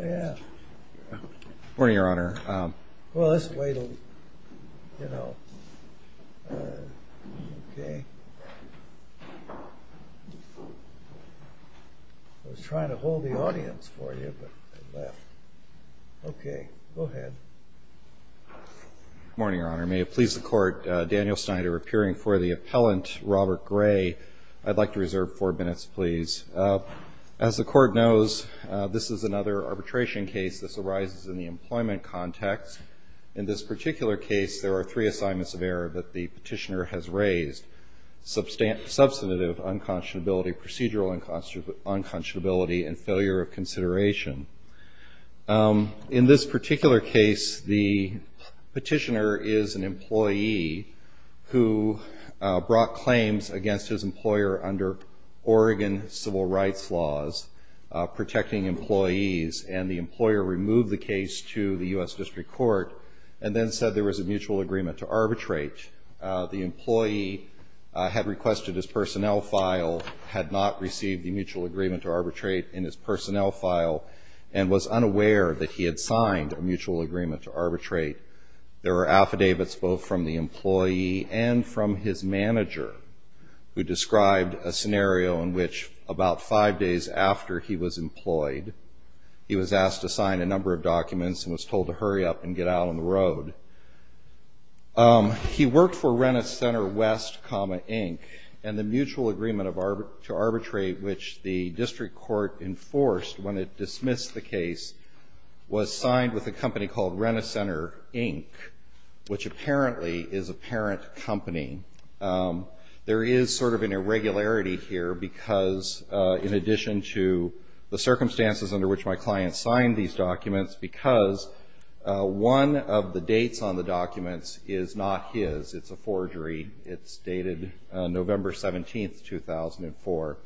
Good morning, Your Honor. May it please the Court, Daniel Snyder appearing for the appellant Robert Gray. I'd like to reserve four minutes, please. As the Court knows, this is another arbitration case. This arises in the employment context. In this particular case, there are three assignments of error that the petitioner has raised. Substantive unconscionability, procedural unconscionability, and failure of consideration. In this particular case, the petitioner is an employee who brought claims against his employer under Oregon civil rights laws, protecting employees, and the employer removed the case to the U.S. District Court and then said there was a mutual agreement to arbitrate in his personnel file and was unaware that he had signed a mutual agreement to arbitrate. There were affidavits both from the employee and from his manager who described a scenario in which about five days after he was employed, he was asked to sign a number of documents and was told to hurry up and get out on the road. He worked for Rent-A-Center West, comma, Inc., and the mutual agreement to arbitrate which the District Court enforced when it dismissed the case was signed with a company called Rent-A-Center, Inc., which apparently is a parent company. There is sort of an irregularity here because, in addition to the circumstances under which my client signed these documents, because one of the dates on the documents is not his. It's a forgery. It's dated November 17th, 2004.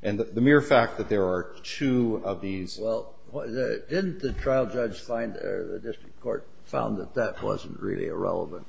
And the mere fact that there are two of these — Well, didn't the trial judge find or the District Court found that that wasn't really a relevant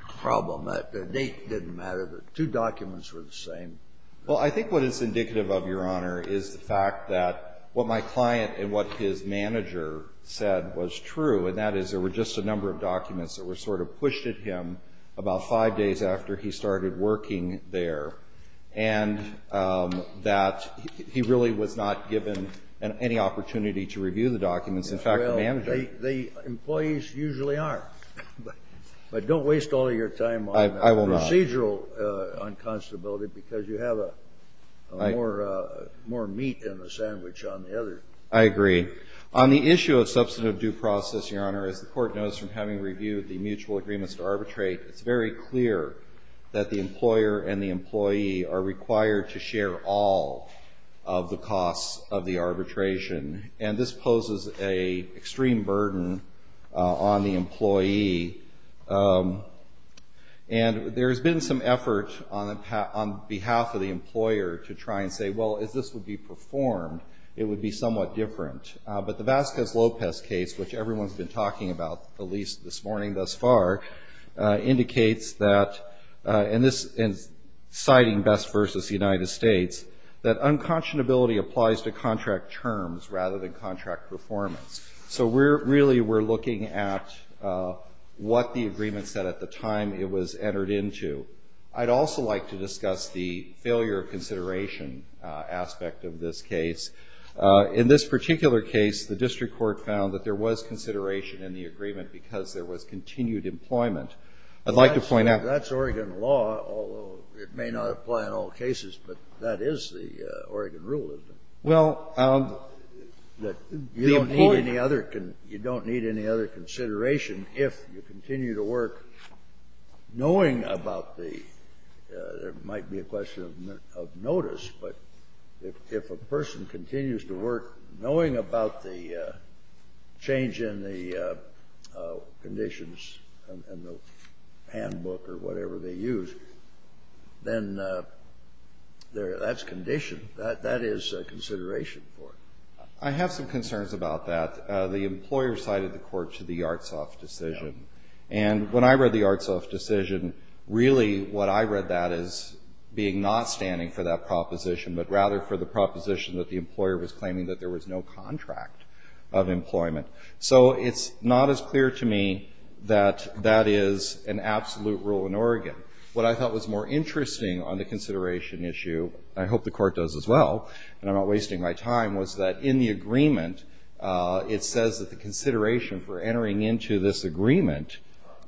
problem, that the date didn't matter, that two documents were the same? Well, I think what is indicative of, Your Honor, is the fact that what my client and what his manager said was true, and that is there were just a number of documents that were sort of pushed at him about five days after he started working there, and that he really was not given any opportunity to review the documents. In fact, the manager — Well, the employees usually aren't. But don't waste all of your time on procedural unconscionability because you have more meat than a sandwich on the other. I agree. On the issue of substantive due process, Your Honor, as the Court knows from having reviewed the mutual agreements to arbitrate, it's very clear that the employer and the employee are required to share all of the costs of the arbitration. And this poses an extreme burden on the employee. And there has been some effort on behalf of the employer to try and say, well, if this would be performed, it would be somewhat different. But the Vasquez-Lopez case, which everyone's been talking about at least this morning thus far, indicates that — and this is citing Best v. United States — that unconscionability applies to contract terms rather than contract performance. So we're — really, we're looking at what the agreement said at the time it was entered into. I'd also like to discuss the failure of consideration aspect of this case. In this particular case, the district court found that there was consideration in the agreement because there was continued employment. I'd like to point out — The Oregon rule is that you don't need any other — you don't need any other consideration if you continue to work knowing about the — there might be a question of notice, but if a person continues to work knowing about the change in the conditions in the handbook or whatever they use, then that's a condition. That is a consideration for it. I have some concerns about that. The employer cited the court to the Yartsov decision. And when I read the Yartsov decision, really what I read that as being not standing for that proposition, but rather for the proposition that the employer was claiming that there was no contract of employment. So it's not as clear to me that that is an absolute rule in Oregon. What I thought was more interesting on the consideration issue — I hope the court does as well, and I'm not wasting my time — was that in the agreement, it says that the consideration for entering into this agreement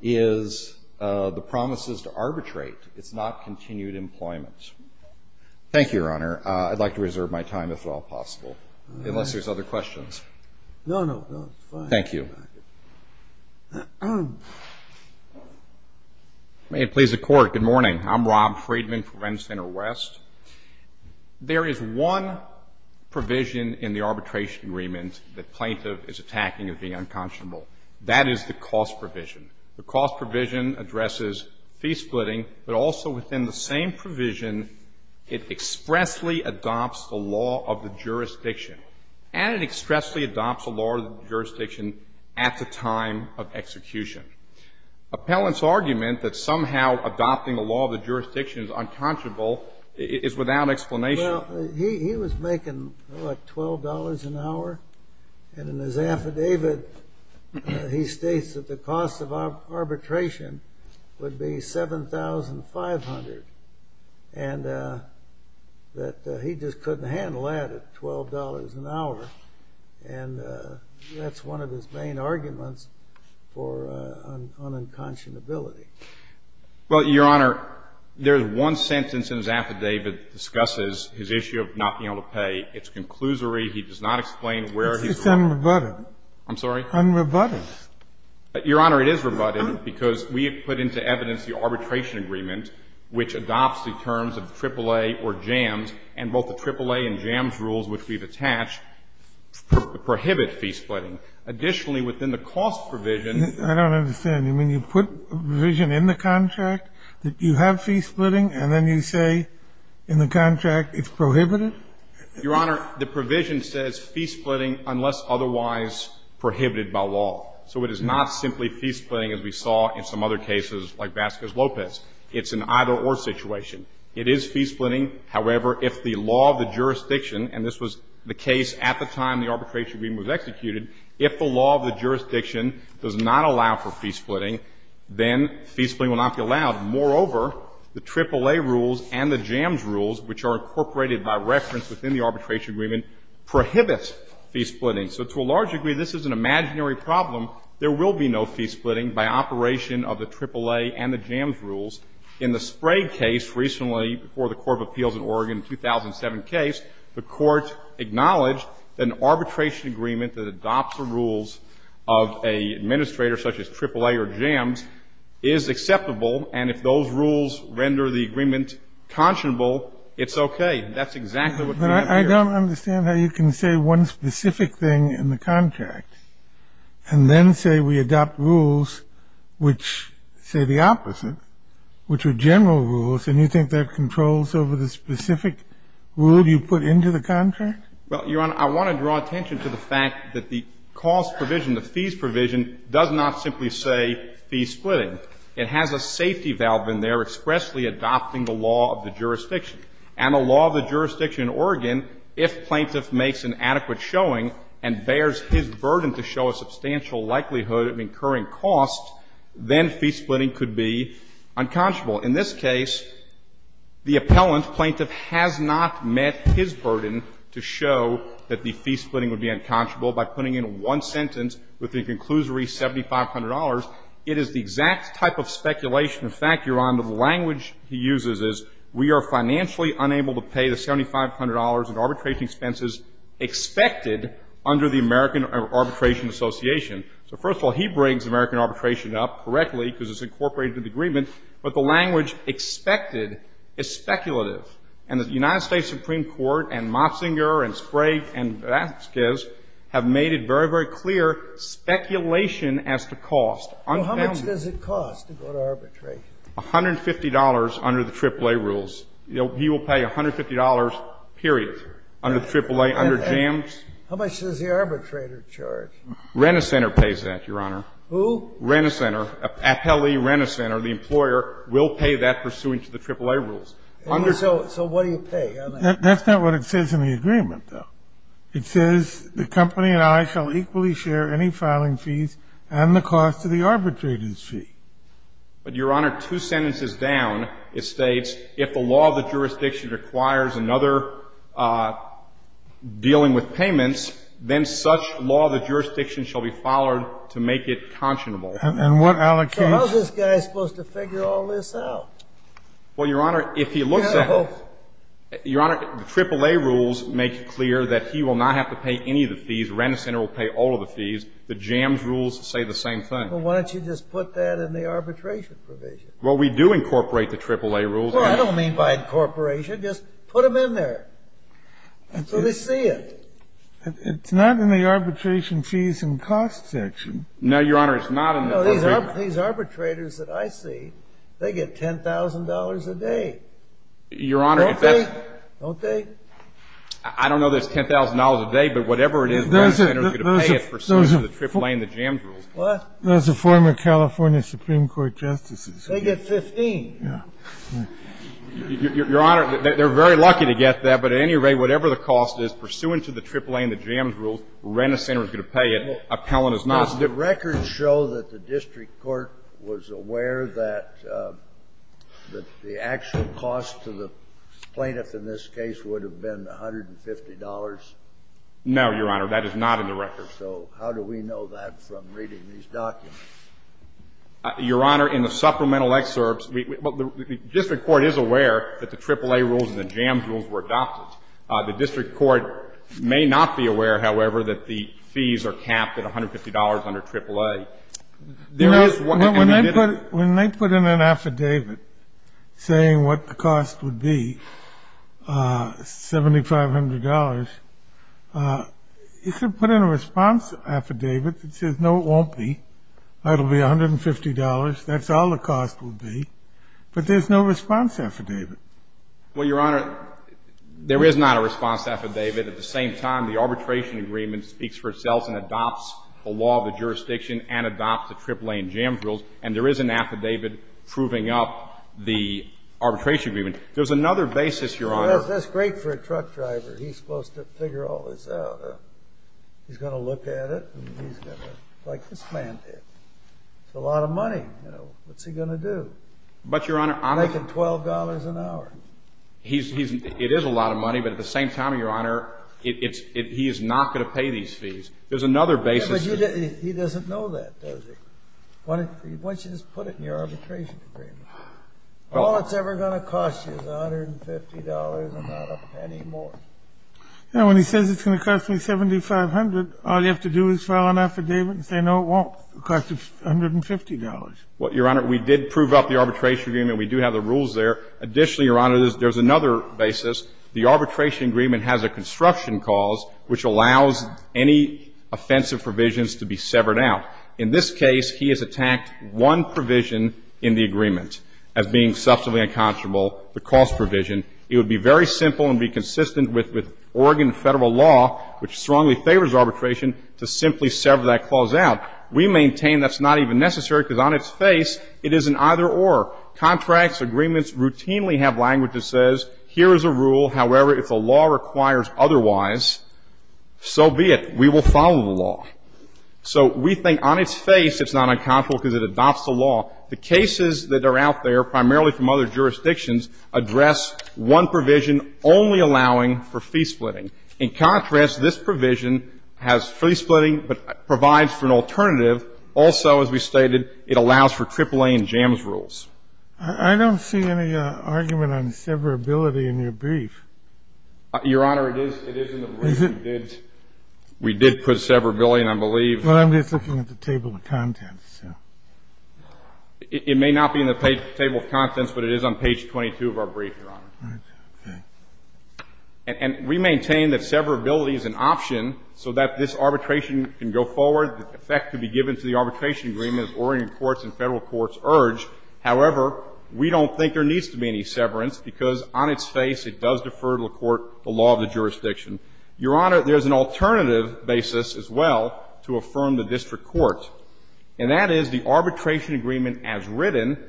is the promises to arbitrate. It's not continued employment. Thank you, Your Honor. I'd like to reserve my time, if at all possible, unless there's other questions. No, no, no. It's fine. Thank you. May it please the Court, good morning. I'm Rob Freedman from Rent Center West. There is one provision in the arbitration agreement that plaintiff is attacking as being unconscionable. That is the cost provision. The cost provision addresses fee splitting, but also within the same provision, it expressly adopts the law of the jurisdiction. And it expressly adopts the law of the jurisdiction at the time of execution. Appellant's argument that somehow adopting the law of the jurisdiction is unconscionable is without explanation. Well, he was making, what, $12 an hour? And in his affidavit, he states that the cost of arbitration would be $7,500. And that he just couldn't handle that at $12 an hour, and that's one of his main arguments for un-unconscionability. Well, Your Honor, there's one sentence in his affidavit that discusses his issue of not being able to pay. It's a conclusory. He does not explain where he's wrong. It's unrebutted. I'm sorry? Unrebutted. Your Honor, it is rebutted because we have put into evidence the arbitration agreement, which adopts the terms of AAA or JAMS, and both the AAA and JAMS rules which we've attached prohibit fee splitting. Additionally, within the cost provision… I don't understand. You mean you put a provision in the contract that you have fee splitting, and then you say in the contract it's prohibited? Your Honor, the provision says fee splitting unless otherwise prohibited by law. So it is not simply fee splitting as we saw in some other cases like Vasquez-Lopez. It's an either-or situation. It is fee splitting. However, if the law of the jurisdiction, and this was the case at the time the arbitration agreement was executed, if the law of the jurisdiction does not allow for fee splitting, then fee splitting will not be allowed. Moreover, the AAA rules and the JAMS rules, which are incorporated by reference within the arbitration agreement, prohibits fee splitting. So to a large degree, this is an imaginary problem. There will be no fee splitting by operation of the AAA and the JAMS rules. In the Sprague case recently before the Court of Appeals in Oregon, 2007 case, the Court acknowledged that an arbitration agreement that adopts the rules of an administrator such as AAA or JAMS is acceptable, and if those rules render the agreement conscionable, it's okay. That's exactly what we have here. But I don't understand how you can say one specific thing in the contract and then say we adopt rules which say the opposite, which are general rules, and you think that controls over the specific rule you put into the contract? Well, Your Honor, I want to draw attention to the fact that the cost provision, the fees provision, does not simply say fee splitting. It has a safety valve in there expressly adopting the law of the jurisdiction. And the law of the jurisdiction in Oregon, if plaintiff makes an adequate showing and bears his burden to show a substantial likelihood of incurring cost, then fee splitting could be unconscionable. In this case, the appellant, plaintiff, has not met his burden to show that the fee splitting would be unconscionable. By putting in one sentence with the conclusory $7,500, it is the exact type of speculation. In fact, Your Honor, the language he uses is we are financially unable to pay the $7,500 in arbitration expenses expected under the American Arbitration Association. So first of all, he brings American arbitration up correctly because it's incorporated in the agreement, but the language expected is speculative. And the United States Supreme Court and Motzinger and Sprague and Vasquez have made it very, very clear, speculation as to cost. So how much does it cost to go to arbitration? $150 under the AAA rules. He will pay $150, period, under AAA, under JAMS. How much does the arbitrator charge? Rent-a-Center pays that, Your Honor. Who? Rent-a-Center. Appellee, Rent-a-Center, the employer, will pay that pursuant to the AAA rules. So what do you pay? That's not what it says in the agreement, though. It says, the company and I shall equally share any filing fees and the cost of the arbitrator's fee. But, Your Honor, two sentences down, it states, if the law of the jurisdiction requires another dealing with payments, then such law of the jurisdiction shall be followed to make it conscionable. And what allocates So how's this guy supposed to figure all this out? Well, Your Honor, if he looks at it, Your Honor, the AAA rules make it clear that he will not have to pay any of the fees. Rent-a-Center will pay all of the fees. The JAMS rules say the same thing. Well, why don't you just put that in the arbitration provision? Well, we do incorporate the AAA rules. Well, I don't mean by incorporation. Just put them in there until they see it. It's not in the arbitration fees and costs section. No, Your Honor, it's not in the agreement. These arbitrators that I see, they get $10,000 a day. Your Honor, if that's I don't know there's $10,000 a day, but whatever it is, Rent-a-Center is going to pay it pursuant to the AAA and the JAMS rules. Those are former California Supreme Court justices. They get $15,000. Your Honor, they're very lucky to get that. But at any rate, whatever the cost is, pursuant to the AAA and the JAMS rules, Rent-a-Center is going to pay it. Appellant is not. Does the record show that the district court was aware that the actual cost to the plaintiff in this case would have been $150? No, Your Honor, that is not in the record. So how do we know that from reading these documents? Your Honor, in the supplemental excerpts, the district court is aware that the AAA rules and the JAMS rules were adopted. The district court may not be aware, however, that the fees are capped at $150 under AAA. When they put in an affidavit saying what the cost would be, $7,500, is there put in a response affidavit that says, no, it won't be, that'll be $150, that's all the cost will be, but there's no response affidavit? Well, Your Honor, there is not a response affidavit. At the same time, the arbitration agreement speaks for itself and adopts the law of the jurisdiction and adopts the AAA and JAMS rules, and there is an affidavit proving up the arbitration agreement. There's another basis, Your Honor. That's great for a truck driver. He's supposed to figure all this out. He's going to look at it and he's going to, like this man did, it's a lot of money, you know, what's he going to do? But, Your Honor, I'm making $12 an hour. It is a lot of money, but at the same time, Your Honor, he is not going to pay these fees. There's another basis. But he doesn't know that, does he? Why don't you just put it in your arbitration agreement? All it's ever going to cost you is $150 and not a penny more. Now, when he says it's going to cost me $7,500, all you have to do is file an affidavit and say, no, it won't cost you $150. Well, Your Honor, we did prove up the arbitration agreement. We do have the rules there. Additionally, Your Honor, there's another basis. The arbitration agreement has a construction cause which allows any offensive provisions to be severed out. In this case, he has attacked one provision in the agreement as being substantially unconscionable, the cost provision. It would be very simple and be consistent with Oregon federal law, which strongly favors arbitration, to simply sever that clause out. We maintain that's not even necessary because on its face, it is an either-or. Contracts, agreements routinely have language that says, here is a rule. However, if the law requires otherwise, so be it. We will follow the law. So we think on its face, it's not unconscionable because it adopts the law. The cases that are out there, primarily from other jurisdictions, address one provision only allowing for fee splitting. In contrast, this provision has fee splitting but provides for an alternative. Also, as we stated, it allows for AAA and JAMS rules. I don't see any argument on severability in your brief. Your Honor, it is in the brief. We did put severability, and I believe. Well, I'm just looking at the table of contents, so. It may not be in the table of contents, but it is on page 22 of our brief, Your Honor. And we maintain that severability is an option so that this arbitration can go forward. Your Honor, the effect could be given to the arbitration agreement of orienting courts and Federal courts' urge. However, we don't think there needs to be any severance because on its face, it does defer to the court the law of the jurisdiction. Your Honor, there is an alternative basis as well to affirm the district court, and that is the arbitration agreement as written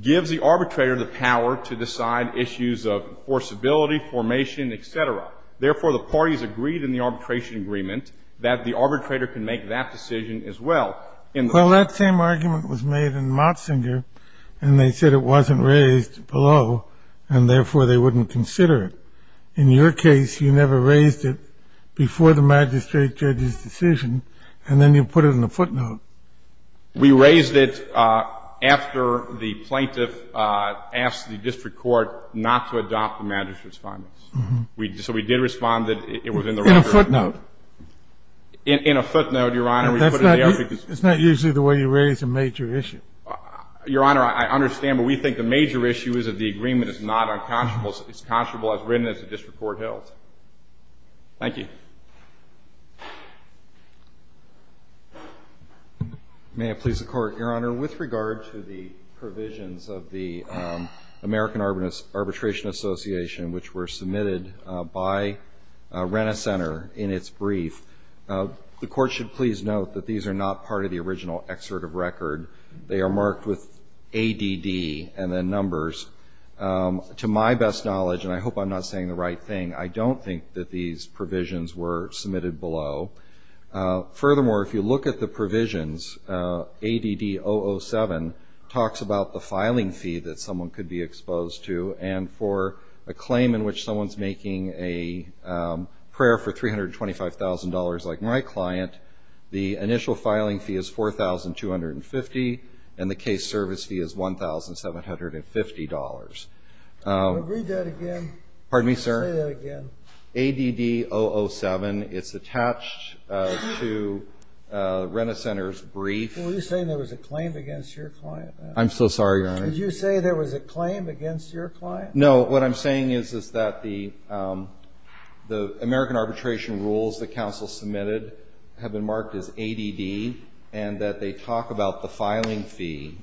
gives the arbitrator the power to decide issues of enforceability, formation, et cetera. Therefore, the parties agreed in the arbitration agreement that the arbitrator can make that decision as well. Well, that same argument was made in Motzinger, and they said it wasn't raised below, and therefore, they wouldn't consider it. In your case, you never raised it before the magistrate judge's decision, and then you put it in the footnote. We raised it after the plaintiff asked the district court not to adopt the magistrate's deference. So we did respond that it was in the record. In a footnote? In a footnote, Your Honor. That's not usually the way you raise a major issue. Your Honor, I understand, but we think the major issue is that the agreement is not unconscionable. It's conscionable as written, as the district court held. Thank you. May it please the Court. Your Honor, with regard to the provisions of the American Arbitration Association, which were submitted by Rena Center in its brief, the Court should please note that these are not part of the original excerpt of record. They are marked with ADD and then numbers. To my best knowledge, and I hope I'm not saying the right thing, I don't think that these provisions were submitted below. Furthermore, if you look at the provisions, ADD 007 talks about the filing fee that a claim in which someone's making a prayer for $325,000, like my client, the initial filing fee is $4,250, and the case service fee is $1,750. Read that again. Pardon me, sir? Say that again. ADD 007, it's attached to Rena Center's brief. Were you saying there was a claim against your client? I'm so sorry, Your Honor. Did you say there was a claim against your client? No, what I'm saying is that the American Arbitration rules that counsel submitted have been marked as ADD and that they talk about the filing fee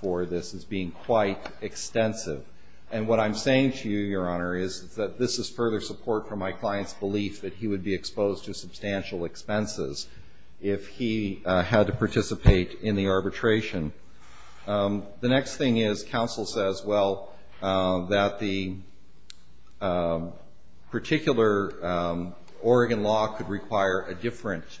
for this as being quite extensive. And what I'm saying to you, Your Honor, is that this is further support for my client's belief that he would be exposed to substantial expenses if he had to participate in the arbitration. The next thing is, counsel says, well, that the particular Oregon law could require a different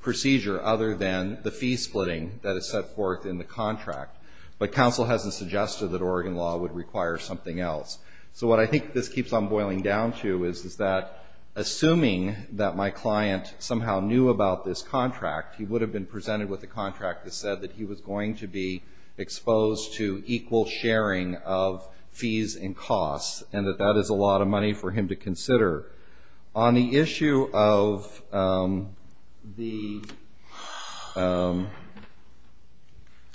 procedure other than the fee splitting that is set forth in the contract. But counsel hasn't suggested that Oregon law would require something else. So what I think this keeps on boiling down to is that, assuming that my client somehow knew about this contract, he would have been presented with a contract that said that he was going to be exposed to equal sharing of fees and costs and that that is a lot of money for him to consider. On the issue of the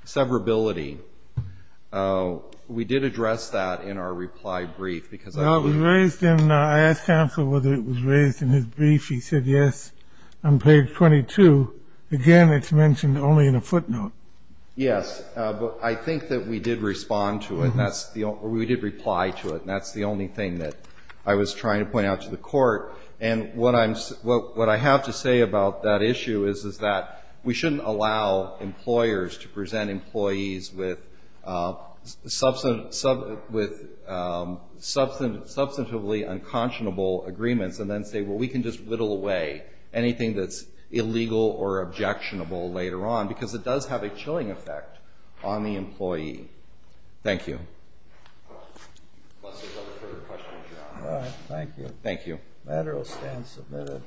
severability, we did address that in our reply brief. Because I was raised in, I asked counsel whether it was raised in his brief. He said, yes, on page 22. Again, it's mentioned only in a footnote. Yes, but I think that we did respond to it, or we did reply to it. And that's the only thing that I was trying to point out to the court. And what I have to say about that issue is that we shouldn't allow employers to present employees with substantively unconscionable agreements and then say, well, we can just whittle away anything that's illegal or objectionable later on, because it does have a chilling effect on the employee. Thank you. Unless there's other further questions, you're on. All right. Thank you. Thank you. The matter will stand submitted.